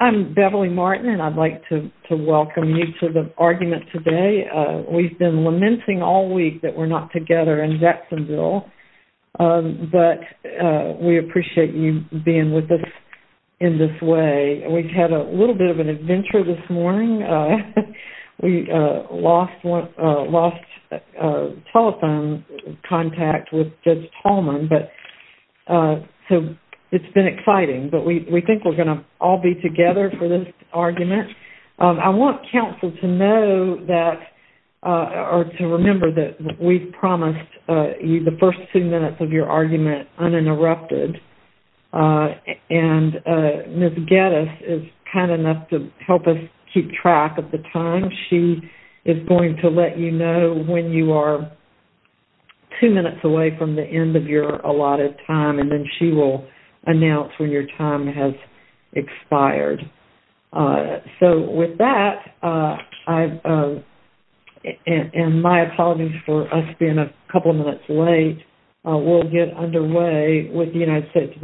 I'm Beverly Martin and I'd like to welcome you to the argument today. We've been lamenting all week that we're not together in Jacksonville, but we appreciate you being with us in this way. We've had a little bit of an adventure this morning. We lost telephone contact with Ms. Tallman, so it's been exciting, but we think we're going to all be together for this argument. I want counsel to know that, or to remember that we've promised the first two minutes of your argument uninterrupted, and Ms. Geddes is kind enough to help us keep track of the time. She is going to let you know when you are two minutes away from the end of your allotted time, and then she will announce when your time has expired. So with that, and my apologies for us being a couple of minutes late, we'll get underway with the argument.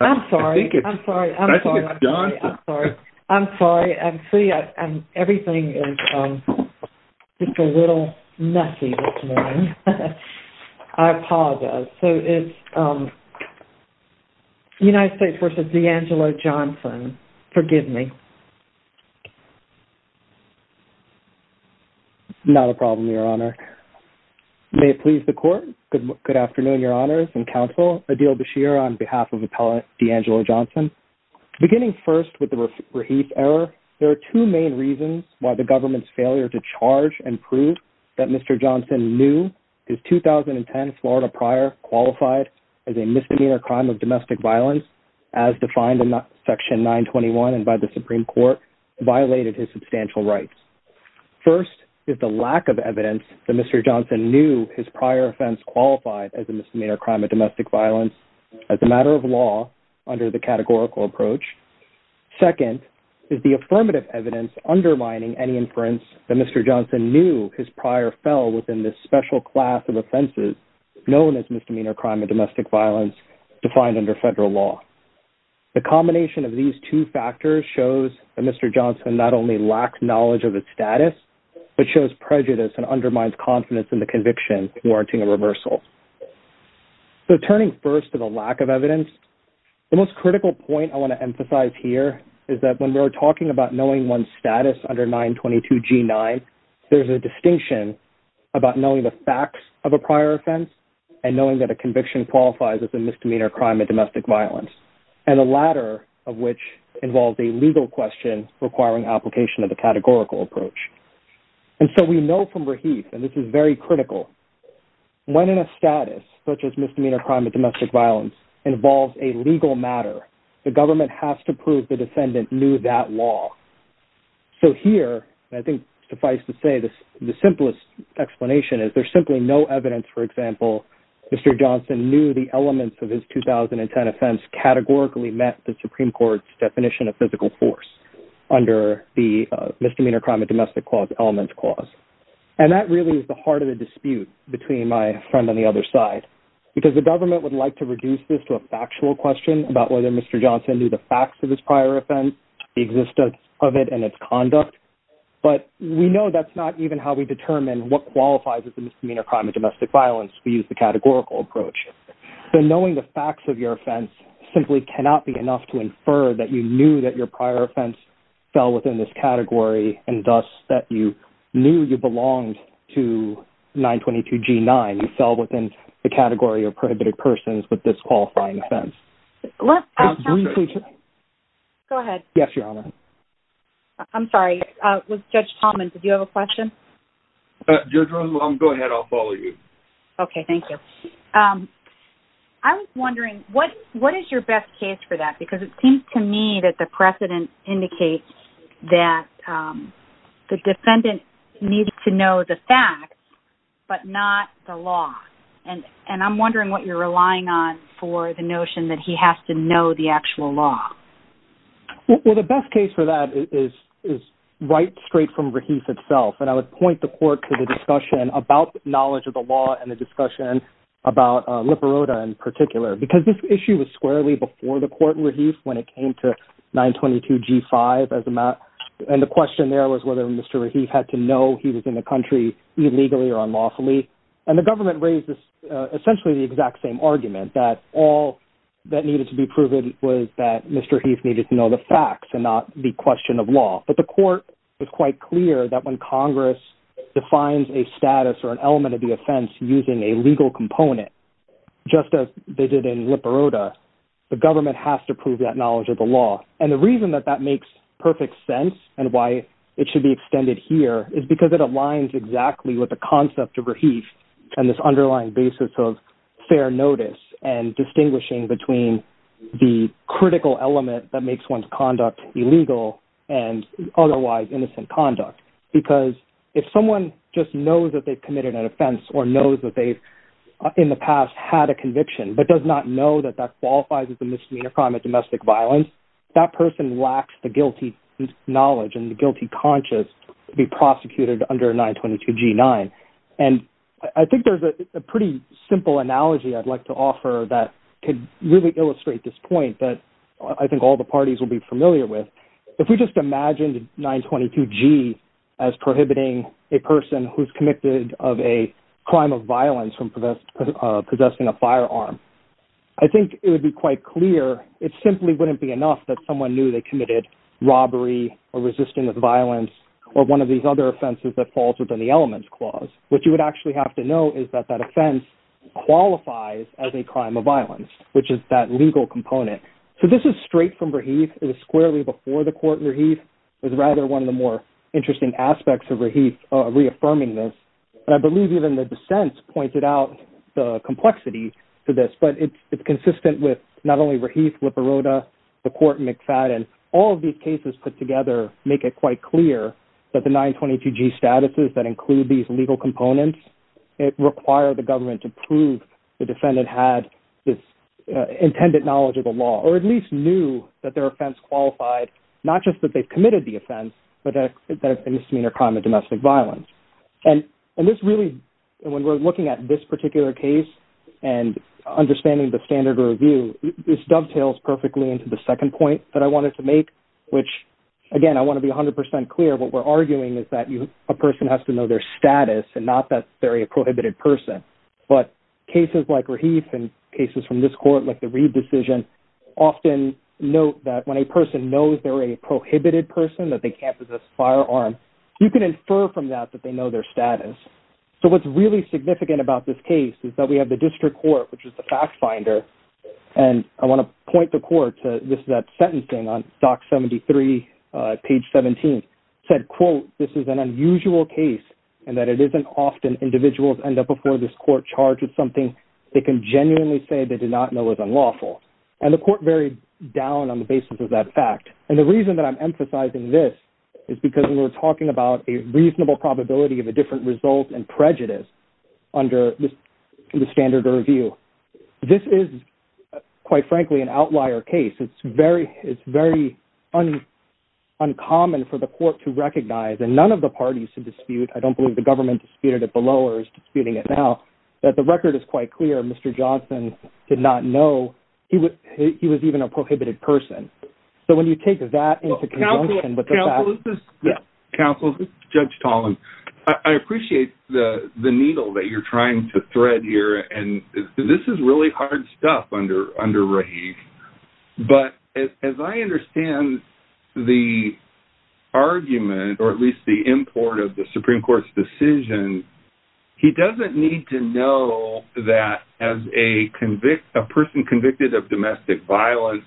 I'm sorry. I'm sorry. I'm sorry. I'm sorry. I'm sorry. I'm sorry. I'm sorry. Everything is just a little messy this morning. I apologize. So it's United States v. Deangelo Johnson. Forgive me. Not a problem, Your Honor. May it please the court. Good afternoon, Your Honors and counsel. Adil Bashir on behalf of Deangelo Johnson. Beginning first with the Raheith error, there are two main reasons why the government's failure to charge and prove that Mr. Johnson knew his 2010 Florida prior qualified as a misdemeanor crime of domestic violence as defined in Section 921 and by the Supreme Court violated his substantial rights. First is the lack of evidence that Mr. Johnson knew his prior offense qualified as a misdemeanor crime of domestic violence as a matter of law under the categorical approach. Second, is the affirmative evidence undermining any inference that Mr. Johnson knew his prior fell within this special class of offenses known as misdemeanor crime of domestic violence defined under federal law. The combination of these two factors shows that Mr. Johnson not only lacked knowledge of its status, but shows prejudice and undermines confidence in the conviction warranting a reversal. So turning first to the lack of evidence, the most critical point I want to emphasize here is that when we're talking about knowing one's status under 922 G9, there's a distinction about knowing the facts of a prior offense and knowing that a conviction qualifies as a misdemeanor crime of domestic violence, and the latter of which involves a legal question requiring application of the categorical approach. And so we know from Rahif, and this is very critical, when in a status such as misdemeanor crime of domestic violence involves a legal matter, the government has to prove the defendant knew that law. So here, I think suffice to say this, the simplest explanation is there's simply no evidence, for example, Mr. Johnson knew the elements of his 2010 offense categorically met the Supreme Court's definition of physical force under the misdemeanor crime of domestic element clause. And that really is the heart of the dispute between my friend on the other side, because the government would like to reduce this to a factual question about whether Mr. Johnson knew the facts of his prior offense, the existence of it and its conduct, but we know that's not even how we determine what qualifies as a misdemeanor crime of domestic violence. We use the categorical approach. So knowing the facts of your offense simply cannot be enough to infer that you knew that your prior offense fell within this category and thus that you knew you belonged to 922 G9, you fell within the category of prohibited persons with this qualifying offense. Go ahead. Yes, Your Honor. I'm sorry, Judge Talman, did you have a question? Go ahead. I'll follow you. Okay. Thank you. I was wondering what is your best case for that? Because it seems to me that the precedent indicates that the defendant needed to know the facts, but not the law. And I'm wondering what you're relying on for the notion that he has to know the actual law. Well, the best case for that is right straight from Rahif itself. And I would point the court to the discussion about knowledge of the law and the discussion about Liparota in particular, because this issue was squarely before the court in Rahif when it came to 922 G5 as a matter. And the question there was whether Mr. Rahif had to know he was in the country illegally or unlawfully. And the government raised essentially the exact same argument that all that needed to be proven was that Mr. Rahif needed to know the facts and not the question of law. But the court was quite clear that when Congress defines a status or an element of the offense using a legal component, just as they did in Liparota, the government has to prove that knowledge of the law. And the reason that that makes perfect sense and why it should be extended here is because it aligns exactly with the concept of Rahif and this underlying basis of fair notice and distinguishing between the critical element that makes one's conduct illegal and otherwise innocent conduct. Because if someone just knows that they've committed an offense or knows that they've in the past had a conviction but does not know that that qualifies as a misdemeanor crime of domestic violence, that person lacks the guilty knowledge and the guilty conscience to be I have a simple analogy I'd like to offer that could really illustrate this point that I think all the parties will be familiar with. If we just imagined 922G as prohibiting a person who's committed of a crime of violence from possessing a firearm, I think it would be quite clear it simply wouldn't be enough that someone knew they committed robbery or resisting of violence or one of these other offenses that falls within the elements clause. What you would actually have to know is that that offense qualifies as a crime of violence, which is that legal component. So this is straight from Rahif. It was squarely before the court Rahif. It was rather one of the more interesting aspects of Rahif reaffirming this. And I believe even the dissents pointed out the complexity to this, but it's consistent with not only Rahif Liparota, the court McFadden, all of these cases put together make it quite clear that the 922G statuses that include these legal components, it required the government to prove the defendant had this intended knowledge of the law or at least knew that their offense qualified, not just that they've committed the offense, but that misdemeanor crime of domestic violence. And, and this really, when we're looking at this particular case, and understanding the standard review, this dovetails perfectly into the second point that I wanted to make, which, again, I want to be 100% clear what we're arguing is that a person has to know their status and not that they're a prohibited person. But cases like Rahif and cases from this court, like the Reid decision, often note that when a person knows they're a prohibited person, that they can't possess a firearm, you can infer from that that they know their status. So what's really significant about this case is that we have the this is an unusual case, and that it isn't often individuals end up before this court charged with something they can genuinely say they did not know is unlawful. And the court varied down on the basis of that fact. And the reason that I'm emphasizing this is because we're talking about a reasonable probability of a different result and prejudice under the standard review. This is, quite frankly, an uncommon for the court to recognize and none of the parties to dispute, I don't believe the government disputed it below or is disputing it now, that the record is quite clear, Mr. Johnson did not know he was he was even a prohibited person. So when you take that into account, counsel, Judge Toland, I appreciate the the needle that you're trying to thread here. And this is really hard stuff under under But as I understand the argument, or at least the import of the Supreme Court's decision, he doesn't need to know that as a convict, a person convicted of domestic violence,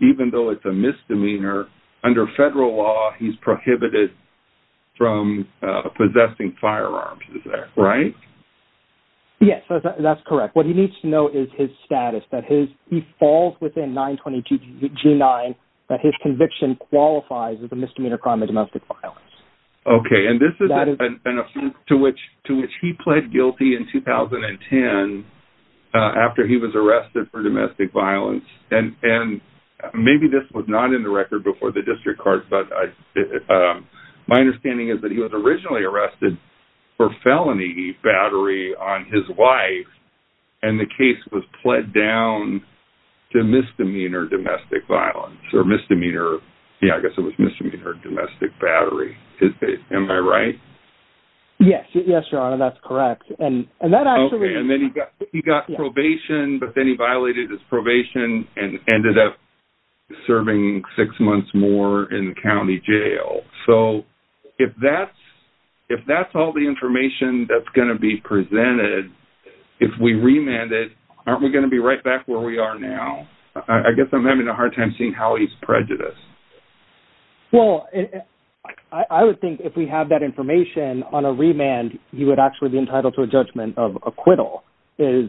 even though it's a misdemeanor, under federal law, he's prohibited from possessing firearms. Is that right? Yes, that's correct. What he needs to know is his status that his he falls within 922 g nine, that his conviction qualifies as a misdemeanor crime of domestic violence. Okay, and this is to which to which he pled guilty in 2010. After he was arrested for domestic violence, and and maybe this was not in the his wife. And the case was pled down to misdemeanor domestic violence or misdemeanor. Yeah, I guess it was misdemeanor domestic battery. Am I right? Yes, yes, your honor. That's correct. And that actually and then he got he got probation, but then he violated his probation and ended up serving six months more in the county jail. So if that's, if that's all the information that's going to be presented, if we remanded, aren't we going to be right back where we are now? I guess I'm having a hard time seeing how he's prejudiced. Well, I would think if we have that information on a remand, he would actually be entitled to a judgment of acquittal is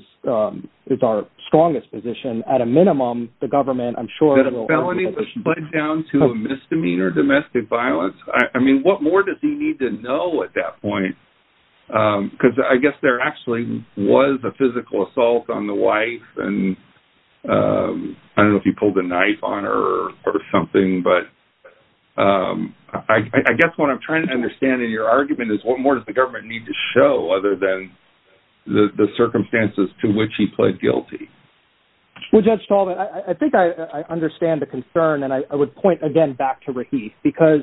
is our strongest position at a minimum, the government I'm sure pled down to misdemeanor domestic violence. I mean, what more does he need to know at that point? Because I guess there actually was a physical assault on the wife. And I don't know if he pulled a knife on her or something. But I guess what I'm trying to understand in your argument is what more does the government need to show other than the circumstances to which he pled guilty? Well, Judge Talbot, I think I understand the concern. And I would point again back to Rahif because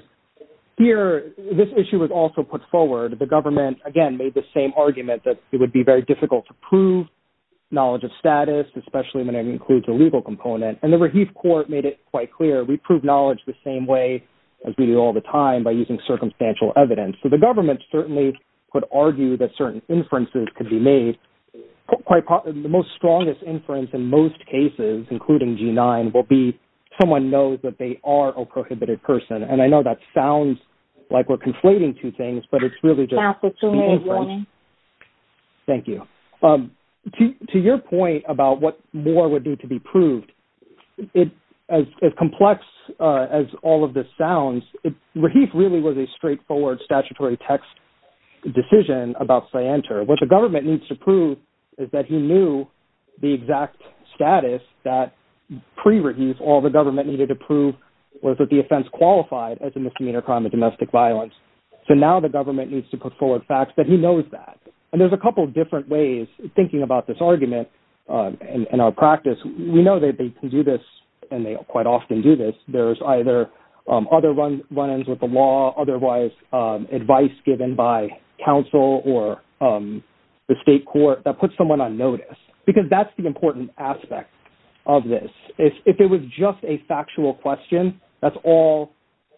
here, this issue was also put forward, the government again made the same argument that it would be very difficult to prove knowledge of status, especially when it includes a legal component. And the Rahif court made it quite clear, we prove knowledge the same way, as we do all the time by using circumstantial evidence. So the inference in most cases, including G9, will be someone knows that they are a prohibited person. And I know that sounds like we're conflating two things, but it's really just the inference. Thank you. To your point about what more would need to be proved, as complex as all of this sounds, Rahif really was a straightforward statutory text decision about Syantar. What the government needs to prove is that he knew the exact status that, pre-Rahif, all the government needed to prove was that the offense qualified as a misdemeanor crime of domestic violence. So now the government needs to put forward facts that he knows that. And there's a couple of different ways of thinking about this argument. In our practice, we know that they can do this. And otherwise, advice given by counsel or the state court that puts someone on notice, because that's the important aspect of this. If it was just a factual question, that's all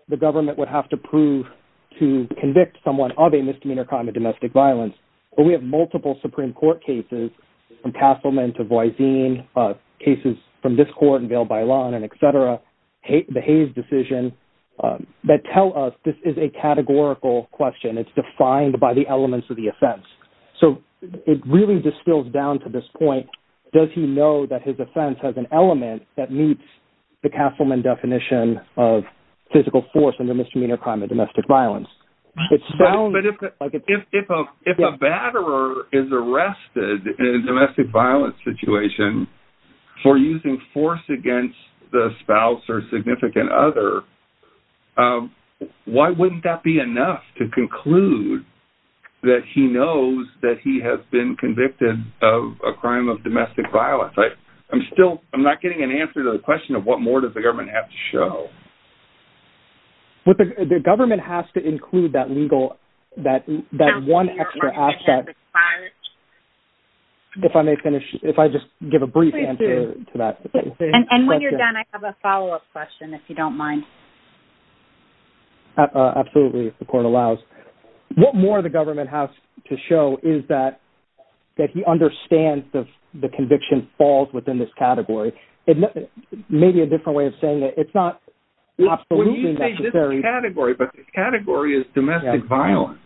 the government would have to prove to convict someone of a misdemeanor crime of domestic violence. But we have multiple Supreme Court cases, from Castleman to Voisin, cases from this court in Vail-by-Lawn and et cetera, the Hayes decision, that tell us this is a categorical question. It's defined by the elements of the offense. So it really just spills down to this point. Does he know that his offense has an element that meets the Castleman definition of physical force in the misdemeanor crime of domestic violence? But if a batterer is arrested in a domestic violence situation for using force against the spouse or significant other, why wouldn't that be enough to conclude that he knows that he has been convicted of a crime of domestic violence? I'm still, I'm not getting an answer to the question of what more does the government have to show? The government has to include that legal, that one extra aspect. If I may finish, if I just give a brief answer to that. And when you're done, I have a follow up question, if you don't mind. Absolutely, if the court allows. What more the government has to show is that, that he understands the conviction falls within this category. It may be a absolutely necessary category, but this category is domestic violence.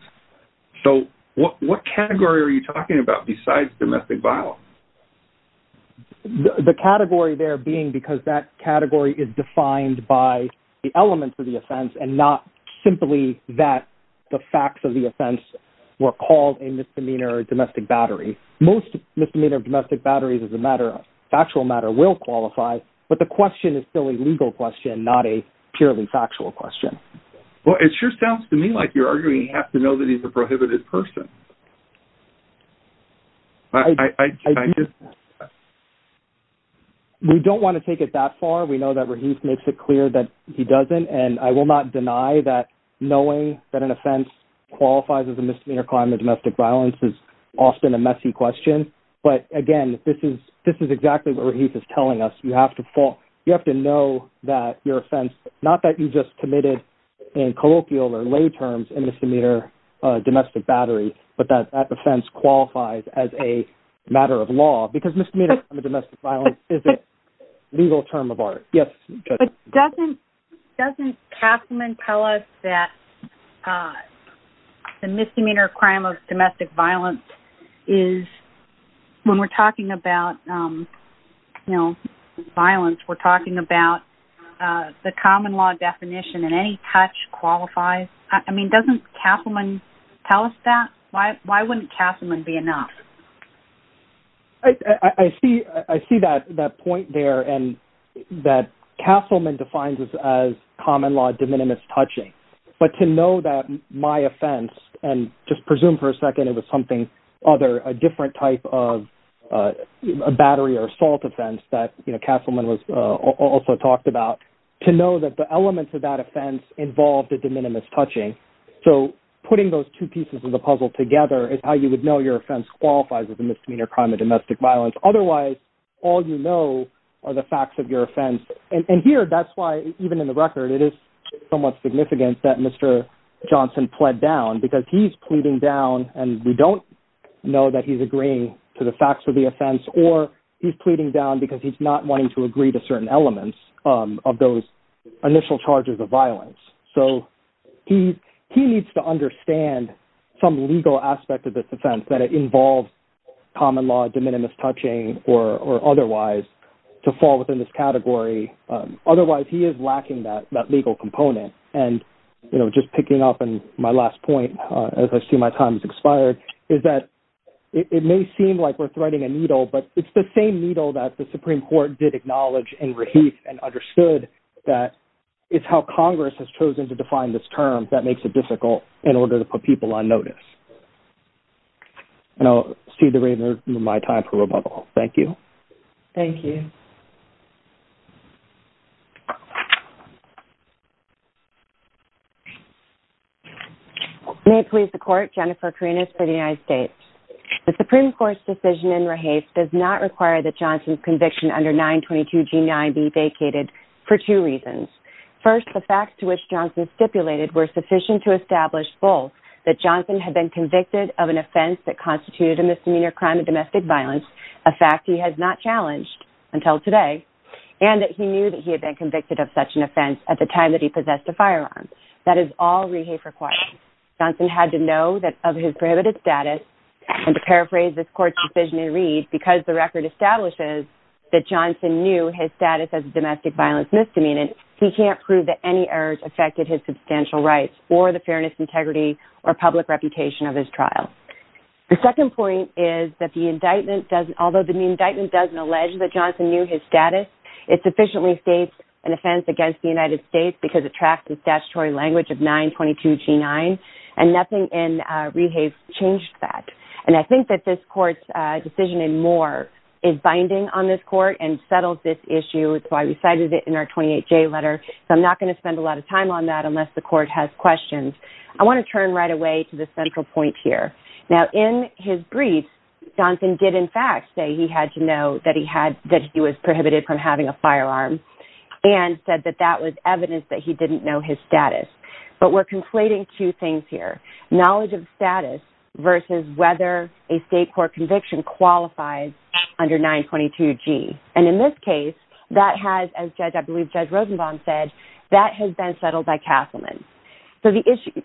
So what category are you talking about besides domestic violence? The category there being because that category is defined by the elements of the offense and not simply that the facts of the offense were called a misdemeanor domestic battery. Most misdemeanor domestic batteries as a matter of factual matter will qualify. But the question is still a legal question, not a purely factual question. Well, it sure sounds to me like you're arguing you have to know that he's a prohibited person. We don't want to take it that far. We know that he makes it clear that he doesn't and I will not deny that knowing that an offense qualifies as a misdemeanor crime of domestic violence is often a messy question. But again, this is this is exactly what he's telling us you have to fall. You have to know that your offense, not that you just committed in colloquial or lay terms in misdemeanor domestic battery, but that offense qualifies as a matter of law because misdemeanor domestic violence is a legal term of art. Doesn't doesn't Kaplan tell us that the misdemeanor crime of domestic violence is when we're talking about, you know, violence, we're talking about the common law definition and any touch qualifies. I mean, doesn't Kaplan tell us that? Why? Why wouldn't Kaplan be enough? I see I see that that point there and that Kasselman defines as common law de minimis touching, but to know that my offense and just presume for a second, it was something other a different type of battery or assault offense that you know, Kasselman was also talked about to know that the elements of that offense involved a de minimis touching. So putting those two pieces of the puzzle together is how you would know your offense qualifies as a misdemeanor crime of domestic violence. Otherwise, all you know, are the facts of your offense. And here, that's why even in the record, it is somewhat significant that Mr. Johnson pled down because he's pleading down and we don't know that he's agreeing to the facts of the offense, or he's pleading down because he's not wanting to agree to certain elements of those initial charges of violence. So he, he needs to common law de minimis touching or otherwise, to fall within this category. Otherwise, he is lacking that that legal component. And, you know, just picking up on my last point, as I see my time has expired, is that it may seem like we're threading a needle, but it's the same needle that the Supreme Court did acknowledge and reheat and understood that it's how Congress has chosen to define this term that makes it difficult in order to put people on notice. And I'll cede the remainder of my time for rebuttal. Thank you. Thank you. May it please the Court, Jennifer Karinas for the United States. The Supreme Court's decision in Rehase does not require that Johnson's that Johnson had been convicted of an offense that constituted a misdemeanor crime of domestic violence, a fact he has not challenged until today, and that he knew that he had been convicted of such an offense at the time that he possessed a firearm. That is all Rehase requires. Johnson had to know that of his prohibited status, and to paraphrase this Court's decision in Reed, because the record establishes that Johnson knew his status as a public reputation of his trial. The second point is that the indictment doesn't, although the indictment doesn't allege that Johnson knew his status, it sufficiently states an offense against the United States because it tracks the statutory language of 922G9, and nothing in Rehase changed that. And I think that this Court's decision in Moore is binding on this Court and settles this issue, so I recited it in our 28J letter, so I'm not going to spend a lot of time on that unless the Court has questions. I want to turn right away to the central point here. Now, in his brief, Johnson did in fact say he had to know that he was prohibited from having a firearm, and said that that was evidence that he didn't know his status. But we're conflating two things here. Knowledge of So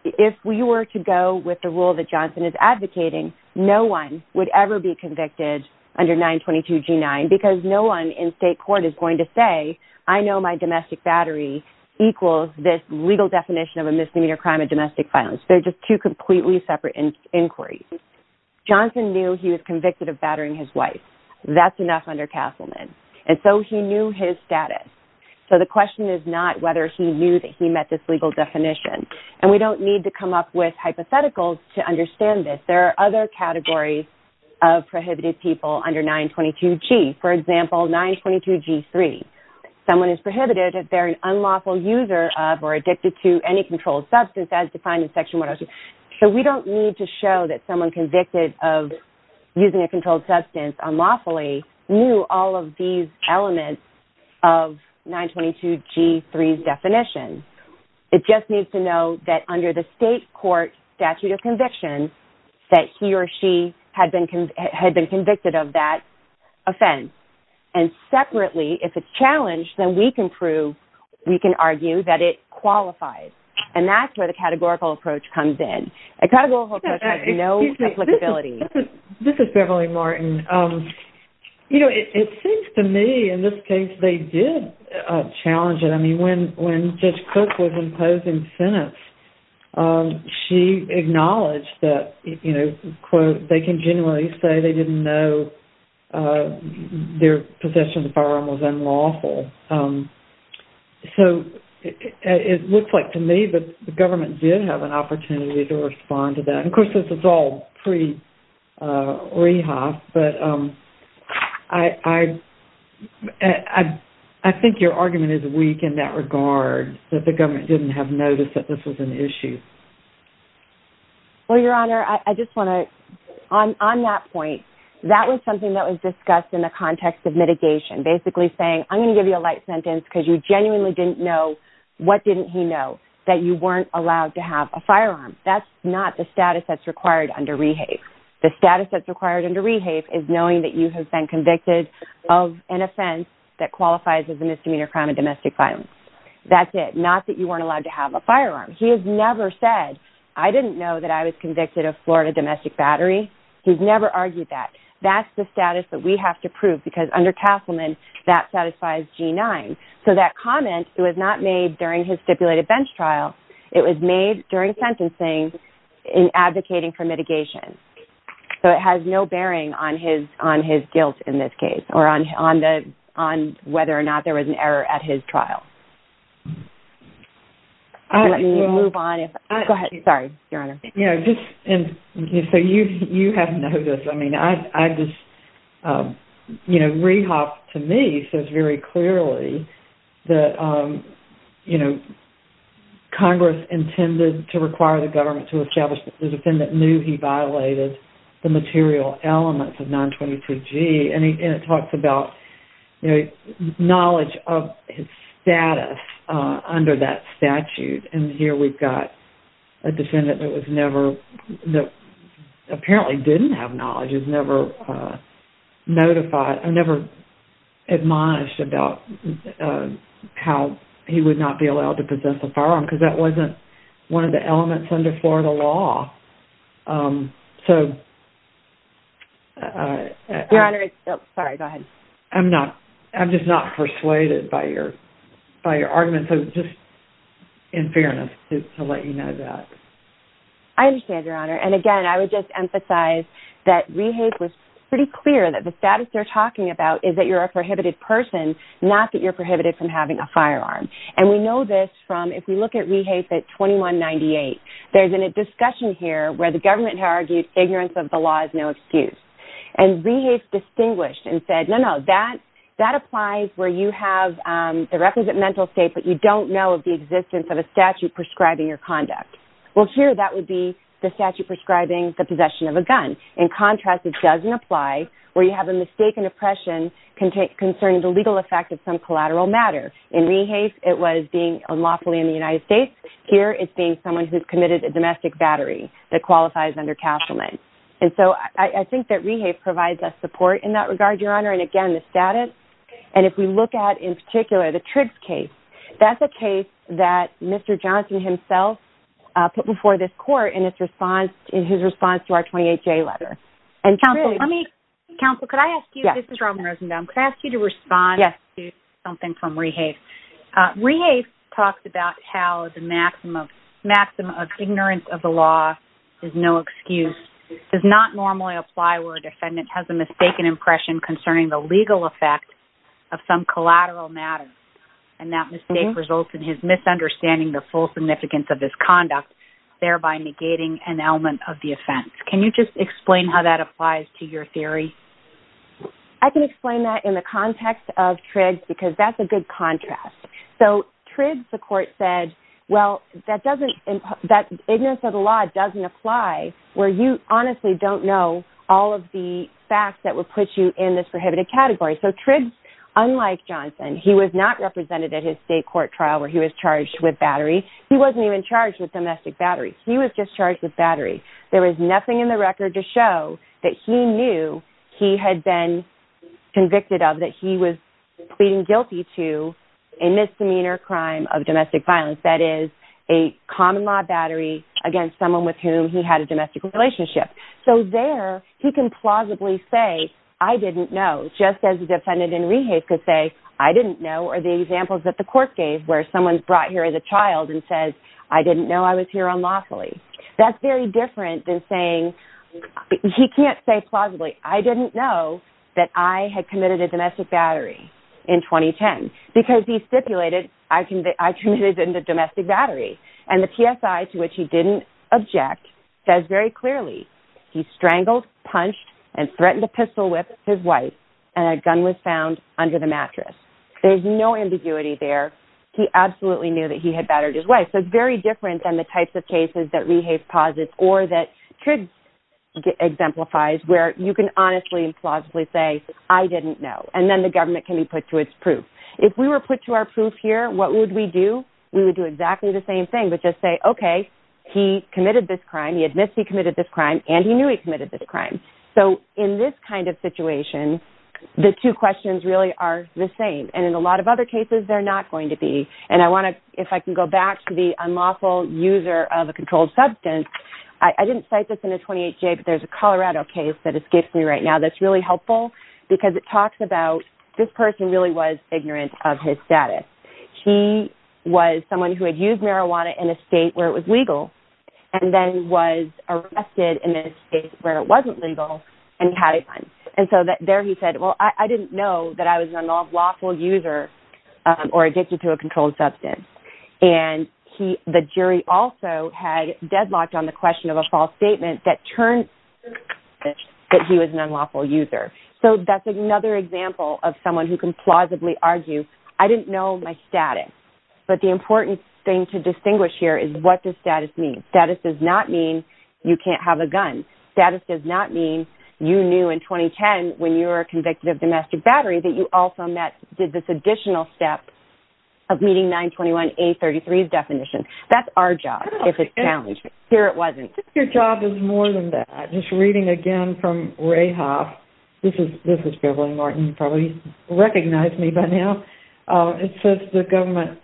if we were to go with the rule that Johnson is advocating, no one would ever be convicted under 922G9 because no one in state court is going to say, I know my domestic battery equals this legal definition of a misdemeanor crime of domestic violence. They're just two completely separate inquiries. Johnson knew he was convicted of And we don't need to come up with hypotheticals to understand this. There are other categories of prohibited people under 922G. For example, 922G3. Someone is prohibited if they're an unlawful user of or addicted to any controlled substance as defined in section 102. So we don't need to show that someone convicted of using a It just needs to know that under the state court statute of conviction, that he or she had been convicted of that offense. And separately, if it's challenged, then we can prove, we can argue that it qualifies. And that's where the categorical approach comes in. This is Beverly Martin. You know, it seems to me, in this case, they did challenge it. I mean, when Judge Cook was imposing sentence, she acknowledged that, you know, quote, they can genuinely say they didn't know their possession of the firearm was unlawful. So it looks like to me that the government did have an opportunity to respond to that. And of course, this is all pre-rehab, but I think your argument is weak in that regard, that the government didn't have notice that this was an issue. Well, Your Honor, I just want to, on that point, that was something that was discussed in the context of mitigation, basically saying, I'm going to give you a light sentence because you genuinely didn't know. What didn't he know? That you weren't allowed to have a firearm. That's not the status that's required under rehab. The status that's required under rehab is knowing that you have been convicted of an offense that qualifies as a misdemeanor crime and domestic violence. That's it. Not that you weren't allowed to have a firearm. He has never said, I didn't know that I was convicted of Florida domestic battery. He's never argued that. That's the status that we have to prove because under Castleman, that satisfies G9. So that comment, it was not made during his stipulated bench trial. It was made during sentencing in advocating for mitigation. So it has no bearing on his guilt in this case or on whether or not there was an error at his trial. Go ahead. Sorry, Your Honor. So you have noticed, I mean, I just, you know, Rehoff, to me, says very clearly that, you know, Congress intended to require the government to establish that the defendant knew he violated the material elements of 923G. And it talks about, you know, knowledge of his status under that statute. And here we've got a defendant that was never, that apparently didn't have knowledge, is never notified or never admonished about how he would not be allowed to possess a firearm because that wasn't one of the elements under Florida law. Your Honor, sorry, go ahead. I'm not, I'm just not persuaded by your, by your argument. So just in fairness to let you know that. I understand, Your Honor. And again, I would just emphasize that Rehoff was pretty clear that the status they're talking about is that you're a prohibited person, not that you're prohibited from having a firearm. And we know this from, if we look at Rehoff at 2198, there's been a discussion here where the government had argued ignorance of the law is no excuse. And Rehoff distinguished and said, no, no, that, that applies where you have the represent mental state, but you don't know of the existence of a statute prescribing your conduct. Well, here, that would be the statute prescribing the possession of a gun. In contrast, it doesn't apply where you have a mistaken oppression concerning the legal effect of some collateral matter. In Rehoff, it was being unlawfully in the United States. Here, it's being someone who's committed a domestic battery that qualifies under Castleman. And so I think that Rehoff provides us support in that regard, Your Honor. And again, the status, and if we look at in particular, the Triggs case, that's a case that Mr. Johnson himself put before this court in his response to our 28-J letter. Counsel, could I ask you to respond to something from Rehoff? Rehoff talks about how the maximum of ignorance of the law is no excuse. It does not normally apply where a defendant has a mistaken oppression concerning the legal effect of some collateral matter. And that mistake results in his misunderstanding the full significance of his conduct, thereby negating an element of the offense. Can you just explain how that applies to your theory? I can explain that in the context of Triggs because that's a good contrast. So Triggs, the court said, well, that doesn't – that ignorance of the law doesn't apply where you honestly don't know all of the facts that would put you in this prohibited category. So Triggs, unlike Johnson, he was not represented at his state court trial where he was charged with battery. He wasn't even charged with domestic battery. He was just charged with battery. There was nothing in the record to show that he knew he had been convicted of that he was pleading guilty to a misdemeanor crime of domestic violence, that is, a common-law battery against someone with whom he had a domestic relationship. So there, he can plausibly say, I didn't know, just as a defendant in Rehoff could say, I didn't know, or the examples that the court gave where someone's brought here as a child and says, I didn't know I was here unlawfully. That's very different than saying – he can't say plausibly, I didn't know that I had committed a domestic battery in 2010 because he stipulated I committed it in the domestic battery. And the TSI, to which he didn't object, says very clearly he strangled, punched, and threatened to pistol-whip his wife, and a gun was found under the mattress. There's no ambiguity there. He absolutely knew that he had battered his wife. So it's very different than the types of cases that Rehoff posits or that Triggs exemplifies where you can honestly and plausibly say, I didn't know. And then the government can be put to its proof. If we were put to our proof here, what would we do? We would do exactly the same thing but just say, okay, he committed this crime, he admits he committed this crime, and he knew he committed this crime. So in this kind of situation, the two questions really are the same. And in a lot of other cases, they're not going to be. And I want to, if I can go back to the unlawful user of a controlled substance, I didn't cite this in the 28-J, but there's a Colorado case that escapes me right now that's really helpful because it talks about this person really was ignorant of his status. He was someone who had used marijuana in a state where it was legal and then was arrested in a state where it wasn't legal and had it fined. And so there he said, well, I didn't know that I was an unlawful user or addicted to a controlled substance. And the jury also had deadlocked on the question of a false statement that turned that he was an unlawful user. So that's another example of someone who can plausibly argue, I didn't know my status. But the important thing to distinguish here is what does status mean? Status does not mean you can't have a gun. Status does not mean you knew in 2010 when you were convicted of domestic battery that you also met, did this additional step of meeting 921A33's definition. That's our job if it's challenged. Here it wasn't. Your job is more than that. Just reading again from Rahoff. This is Beverly Martin. You probably recognize me by now. It says the government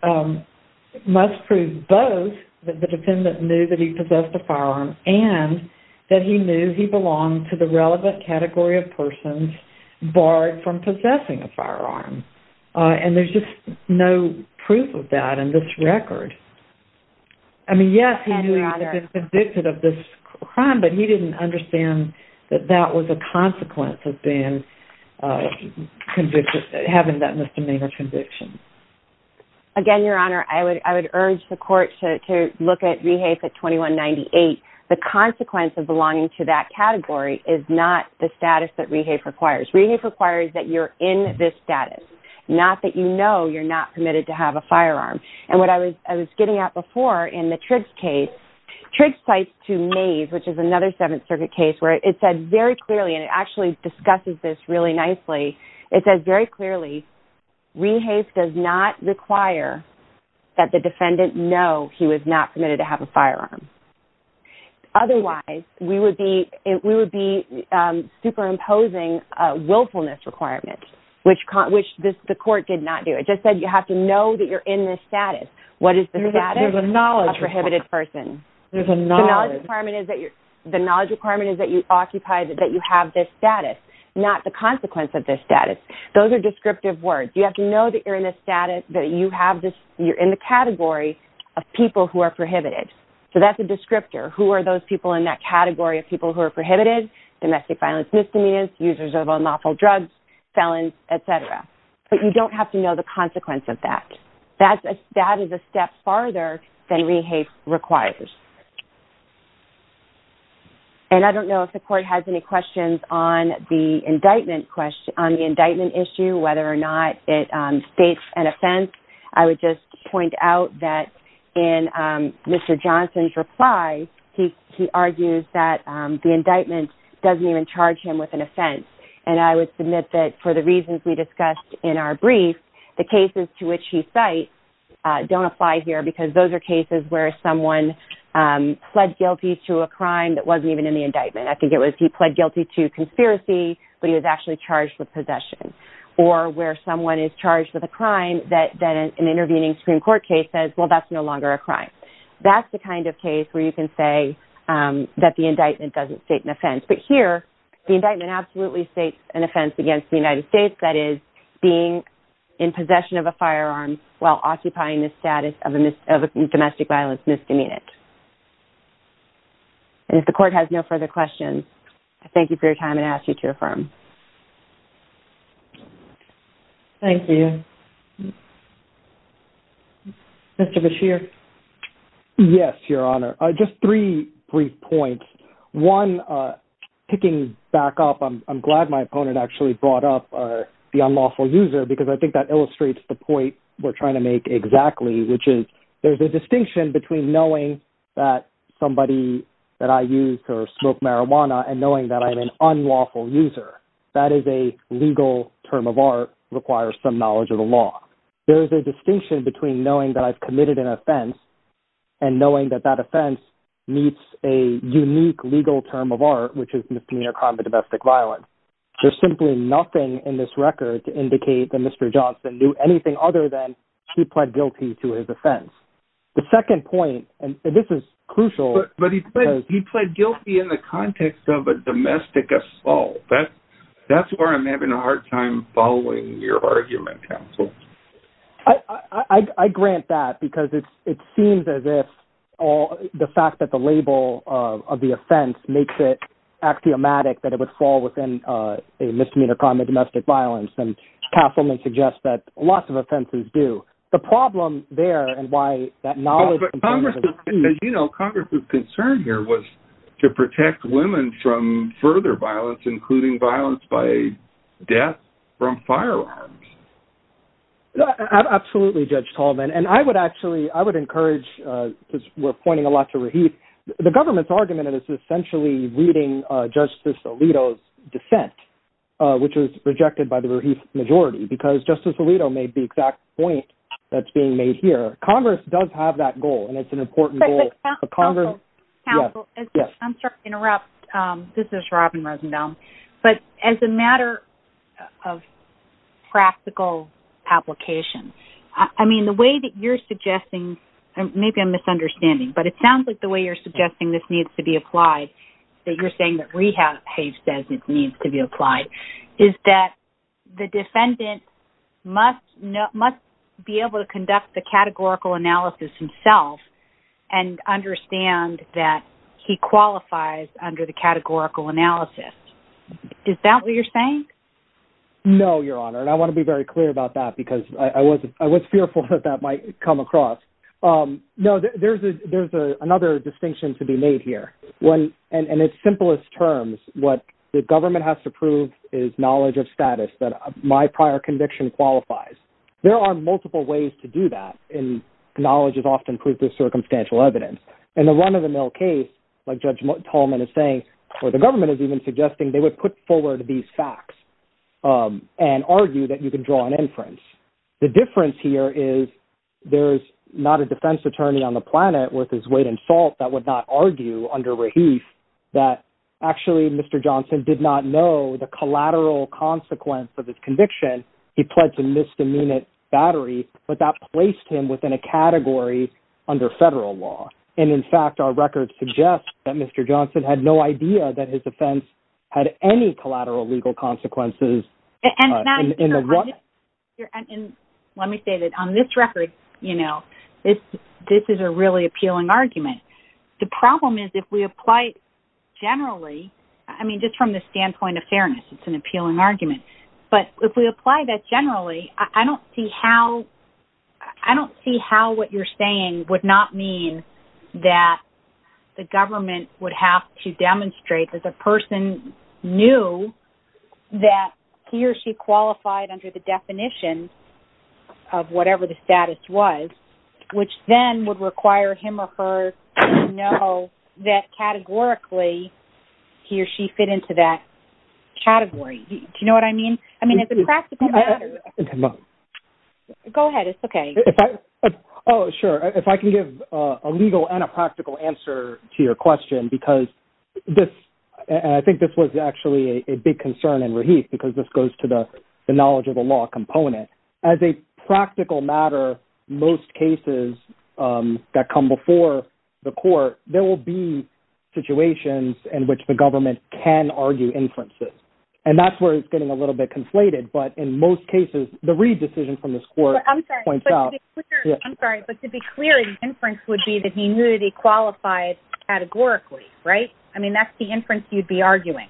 must prove both that the defendant knew that he possessed a firearm and that he knew he belonged to the relevant category of persons barred from possessing a firearm. And there's just no proof of that in this record. I mean, yes, he knew he had been convicted of this crime, but he didn't understand that that was a consequence of having that misdemeanor conviction. Again, Your Honor, I would urge the court to look at Rahoff at 2198. The consequence of belonging to that category is not the status that Rahoff requires. Rahoff requires that you're in this status, not that you know you're not permitted to have a firearm. And what I was getting at before in the Triggs case, Triggs cites to Mays, which is another Seventh Circuit case, where it said very clearly, and it actually discusses this really nicely, it says very clearly, Rahoff does not require that the defendant know he was not permitted to have a firearm. Otherwise, we would be superimposing willfulness requirements, which the court did not do. It just said you have to know that you're in this status. What is the status of a prohibited person? The knowledge requirement is that you occupy, that you have this status, not the consequence of this status. Those are descriptive words. You have to know that you're in the category of people who are prohibited. So that's a descriptor. Who are those people in that category of people who are prohibited? Domestic violence misdemeanors, users of unlawful drugs, felons, et cetera. But you don't have to know the consequence of that. That is a step farther than REHAPE requires. And I don't know if the court has any questions on the indictment issue, whether or not it states an offense. I would just point out that in Mr. Johnson's reply, he argues that the indictment doesn't even charge him with an offense. And I would submit that for the reasons we discussed in our brief, the cases to which he cites don't apply here because those are cases where someone pled guilty to a crime that wasn't even in the indictment. I think it was he pled guilty to conspiracy, but he was actually charged with possession. Or where someone is charged with a crime that an intervening Supreme Court case says, well, that's no longer a crime. That's the kind of case where you can say that the indictment doesn't state an offense. But here, the indictment absolutely states an offense against the United States, that is, being in possession of a firearm while occupying the status of a domestic violence misdemeanor. And if the court has no further questions, I thank you for your time and ask you to affirm. Thank you. Mr. Bashir? Yes, Your Honor. Just three brief points. One, kicking back up, I'm glad my opponent actually brought up the unlawful user because I think that illustrates the point we're trying to make exactly, which is there's a distinction between knowing that somebody that I use or smoke marijuana and knowing that I'm an unlawful user. That is a legal term of art, requires some knowledge of the law. There is a distinction between knowing that I've committed an offense and knowing that that offense meets a unique legal term of art, which is misdemeanor crime of domestic violence. There's simply nothing in this record to indicate that Mr. Johnson knew anything other than he pled guilty to his offense. The second point, and this is crucial. But he pled guilty in the context of a domestic assault. That's where I'm having a hard time following your argument, counsel. I grant that because it seems as if the fact that the label of the offense makes it axiomatic that it would fall within a misdemeanor crime of domestic violence, and Castleman suggests that lots of offenses do. The problem there and why that knowledge— Congress's concern here was to protect women from further violence, including violence by death from firearms. Absolutely, Judge Tallman. And I would actually—I would encourage, because we're pointing a lot to Raheith. The government's argument is essentially reading Justice Alito's dissent, which was rejected by the Raheith majority because Justice Alito made the exact point that's being made here. Congress does have that goal, and it's an important goal. But, counsel, I'm sorry to interrupt. This is Robin Rosendahl. But as a matter of practical application, I mean, the way that you're suggesting— maybe I'm misunderstanding, but it sounds like the way you're suggesting this needs to be applied, that you're saying that Raheith says it needs to be applied, is that the defendant must be able to conduct the categorical analysis himself and understand that he qualifies under the categorical analysis. Is that what you're saying? No, Your Honor, and I want to be very clear about that because I was fearful that that might come across. No, there's another distinction to be made here. In its simplest terms, what the government has to prove is knowledge of status, that my prior conviction qualifies. There are multiple ways to do that, and knowledge is often proof of circumstantial evidence. In the run-of-the-mill case, like Judge Tolman is saying, or the government is even suggesting, they would put forward these facts and argue that you can draw an inference. The difference here is there's not a defense attorney on the planet worth his weight in salt that would not argue under Raheith that actually Mr. Johnson did not know the collateral consequence of his conviction. He pled to misdemeanor battery, but that placed him within a category under federal law. And, in fact, our records suggest that Mr. Johnson had no idea that his offense had any collateral legal consequences in the run-of-the-mill case. Let me say that on this record, you know, this is a really appealing argument. The problem is if we apply it generally, I mean, just from the standpoint of fairness, it's an appealing argument, but if we apply that generally, I don't see how what you're saying would not mean that the government would have to demonstrate that the person knew that he or she qualified under the definition of whatever the status was, which then would require him or her to know that categorically he or she fit into that category. Do you know what I mean? I mean, it's a practical matter. Go ahead. It's okay. Oh, sure. If I can give a legal and a practical answer to your question, because this, and I think this was actually a big concern in Rahif, because this goes to the knowledge of the law component. As a practical matter, most cases that come before the court, there will be situations in which the government can argue inferences, and that's where it's getting a little bit conflated, but in most cases, the Reid decision from this court points out... I mean, that's the inference you'd be arguing.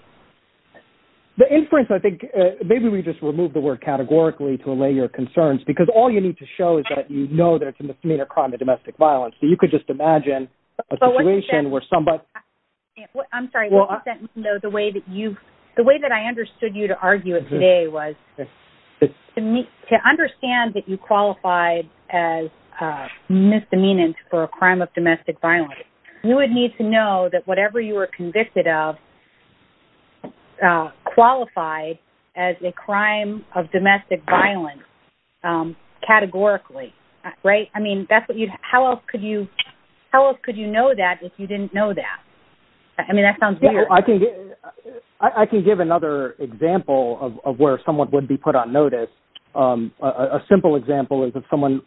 The inference, I think, maybe we just remove the word categorically to allay your concerns, because all you need to show is that you know that it's a misdemeanor crime of domestic violence, so you could just imagine a situation where somebody... I'm sorry, the way that I understood you to argue it today was to understand that you qualified as misdemeanant for a crime of domestic violence. You would need to know that whatever you were convicted of qualified as a crime of domestic violence categorically, right? I mean, how else could you know that if you didn't know that? I mean, that sounds weird. I can give another example of where someone would be put on notice. A simple example is if someone,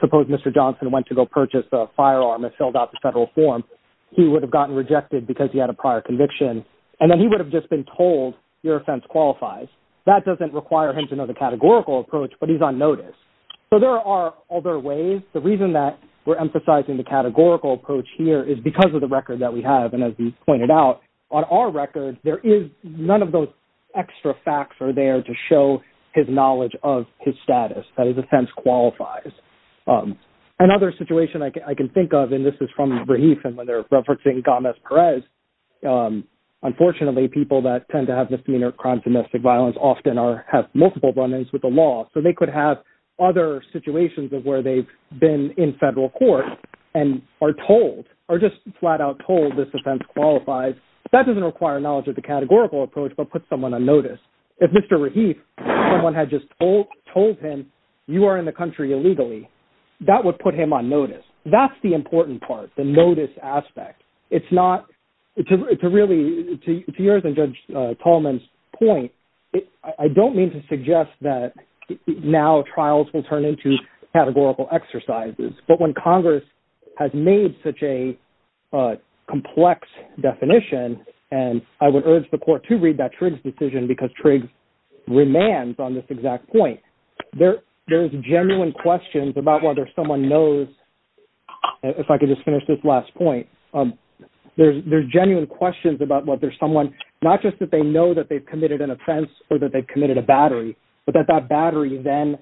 suppose Mr. Johnson went to go purchase a firearm and filled out the federal form, he would have gotten rejected because he had a prior conviction, and then he would have just been told, your offense qualifies. That doesn't require him to know the categorical approach, but he's on notice. So there are other ways. The reason that we're emphasizing the categorical approach here is because of the record that we have, and as we've pointed out, on our record, none of those extra facts are there to show his knowledge of his status, that his offense qualifies. Another situation I can think of, and this is from Rahif, and when they're referencing Gomez-Perez, unfortunately people that tend to have misdemeanor crimes of domestic violence often have multiple run-ins with the law. So they could have other situations of where they've been in federal court and are told or just flat-out told this offense qualifies. That doesn't require knowledge of the categorical approach, but puts someone on notice. If Mr. Rahif, someone had just told him, you are in the country illegally, that would put him on notice. That's the important part, the notice aspect. It's not, to really, to yours and Judge Tolman's point, I don't mean to suggest that now trials will turn into categorical exercises, but when Congress has made such a complex definition, and I would urge the court to read that Triggs decision because Triggs remains on this exact point. There's genuine questions about whether someone knows, if I could just finish this last point, there's genuine questions about whether someone, not just that they know that they've committed an offense or that they've committed a battery, but that that battery then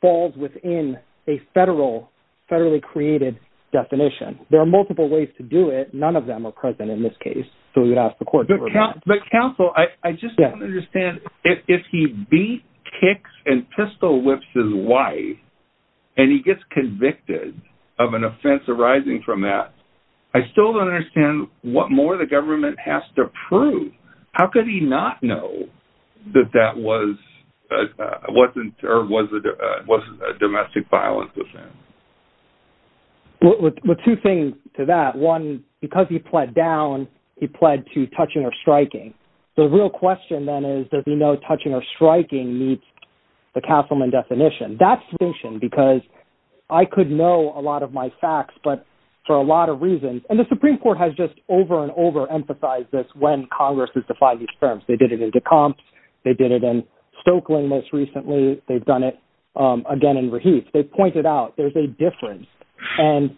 falls within a federally created definition. There are multiple ways to do it. None of them are present in this case, so we would ask the court to read that. But, counsel, I just don't understand. If he beats, kicks, and pistol whips his wife and he gets convicted of an offense arising from that, I still don't understand what more the government has to prove. How could he not know that that was a domestic violence offense? Well, two things to that. One, because he pled down, he pled to touching or striking. The real question, then, is does he know touching or striking meets the Castleman definition? That's the question because I could know a lot of my facts, but for a lot of reasons, and the Supreme Court has just over and over emphasized this when Congress has defied these terms. They did it in Decomps. They did it in Stoeckling most recently. They've done it again in Raheith. They've pointed out there's a difference, and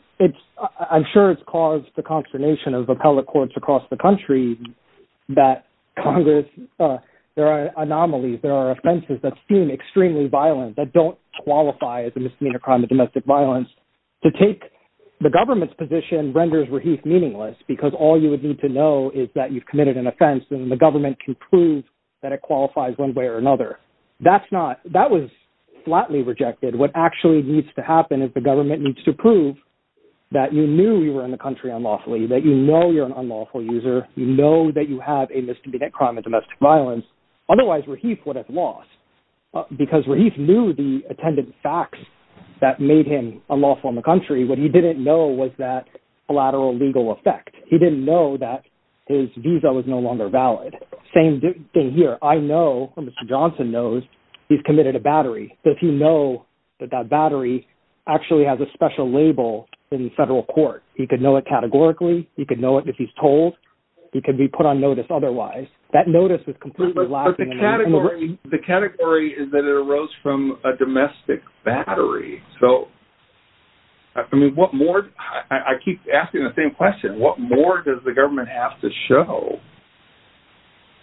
I'm sure it's caused the consternation of appellate courts across the country that Congress, there are anomalies, there are offenses that seem extremely violent that don't qualify as a misdemeanor crime of domestic violence. To take the government's position renders Raheith meaningless because all you would need to know is that you've committed an offense and the government can prove that it qualifies one way or another. That was flatly rejected. What actually needs to happen is the government needs to prove that you knew you were in the country unlawfully, that you know you're an unlawful user, you know that you have a misdemeanor crime of domestic violence. Otherwise, Raheith would have lost because Raheith knew the attendant facts that made him unlawful in the country. What he didn't know was that collateral legal effect. He didn't know that his visa was no longer valid. Same thing here. I know, or Mr. Johnson knows, he's committed a battery. Does he know that that battery actually has a special label in the federal court? He could know it categorically. He could know it if he's told. He could be put on notice otherwise. That notice is completely lacking. But the category is that it arose from a domestic battery. So, I mean, what more? I keep asking the same question. What more does the government have to show?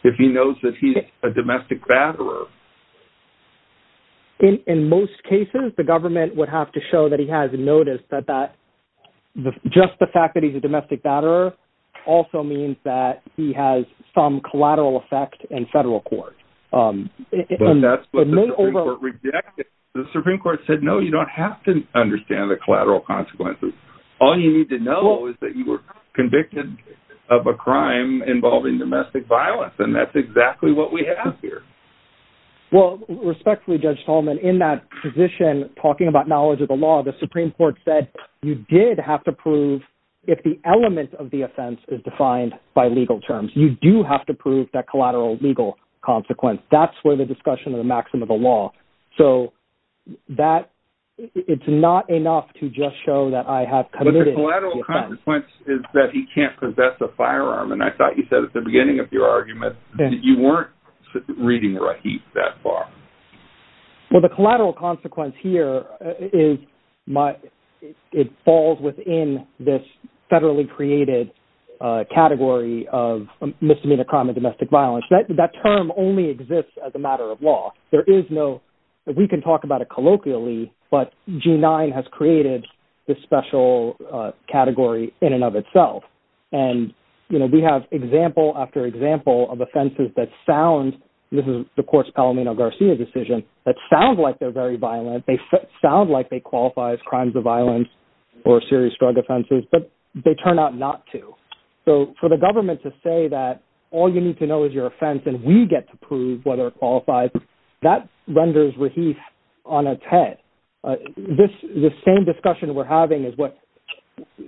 If he knows that he's a domestic batterer. In most cases, the government would have to show that he has a notice that that, just the fact that he's a domestic batterer, also means that he has some collateral effect in federal court. But that's what the Supreme Court rejected. The Supreme Court said, no, you don't have to understand the collateral consequences. All you need to know is that you were convicted of a crime involving domestic violence. And that's exactly what we have here. Well, respectfully, Judge Tolman, in that position, talking about knowledge of the law, the Supreme Court said you did have to prove if the element of the offense is defined by legal terms. You do have to prove that collateral legal consequence. That's where the discussion of the maxim of the law. So, that, it's not enough to just show that I have committed the offense. But the collateral consequence is that he can't possess a firearm. And I thought you said at the beginning of your argument that you weren't reading Raheem that far. Well, the collateral consequence here is my, it falls within this federally created category of misdemeanor crime of domestic violence. There is no, we can talk about it colloquially, but G9 has created this special category in and of itself. And, you know, we have example after example of offenses that sound, this is the courts Palomino Garcia decision, that sound like they're very violent. They sound like they qualify as crimes of violence or serious drug offenses. But they turn out not to. So, for the government to say that all you need to know is your offense and we get to prove whether it qualifies, that renders Raheem on its head. This, the same discussion we're having is what,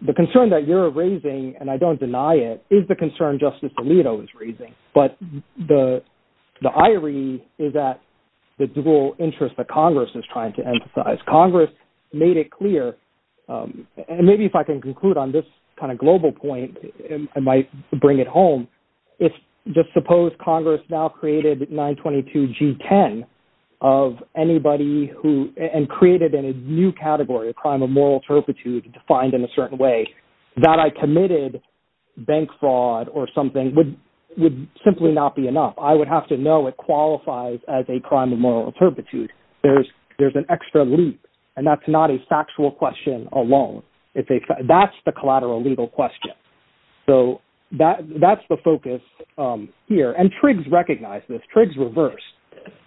the concern that you're raising, and I don't deny it, is the concern Justice Alito is raising. But the ire is that the dual interest that Congress is trying to emphasize. As Congress made it clear, and maybe if I can conclude on this kind of global point, I might bring it home. If, just suppose Congress now created 922 G10 of anybody who, and created a new category, a crime of moral turpitude, defined in a certain way, that I committed bank fraud or something would simply not be enough. I would have to know it qualifies as a crime of moral turpitude. There's an extra leap. And that's not a factual question alone. That's the collateral legal question. So, that's the focus here. And Triggs recognized this. Triggs reversed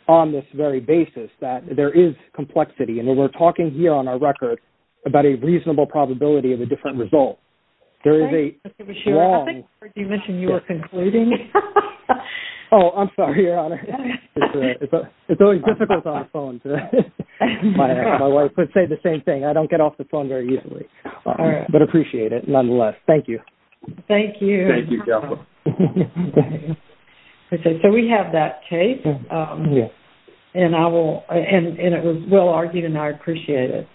on this very basis that there is complexity. And we're talking here on our record about a reasonable probability of a different result. There is a strong... Oh, I'm sorry, Your Honor. It's always difficult on the phone. My wife would say the same thing. I don't get off the phone very easily. But I appreciate it, nonetheless. Thank you. Thank you, Joplin. Okay, so we have that case. Yes. And it was well argued, and I appreciate it.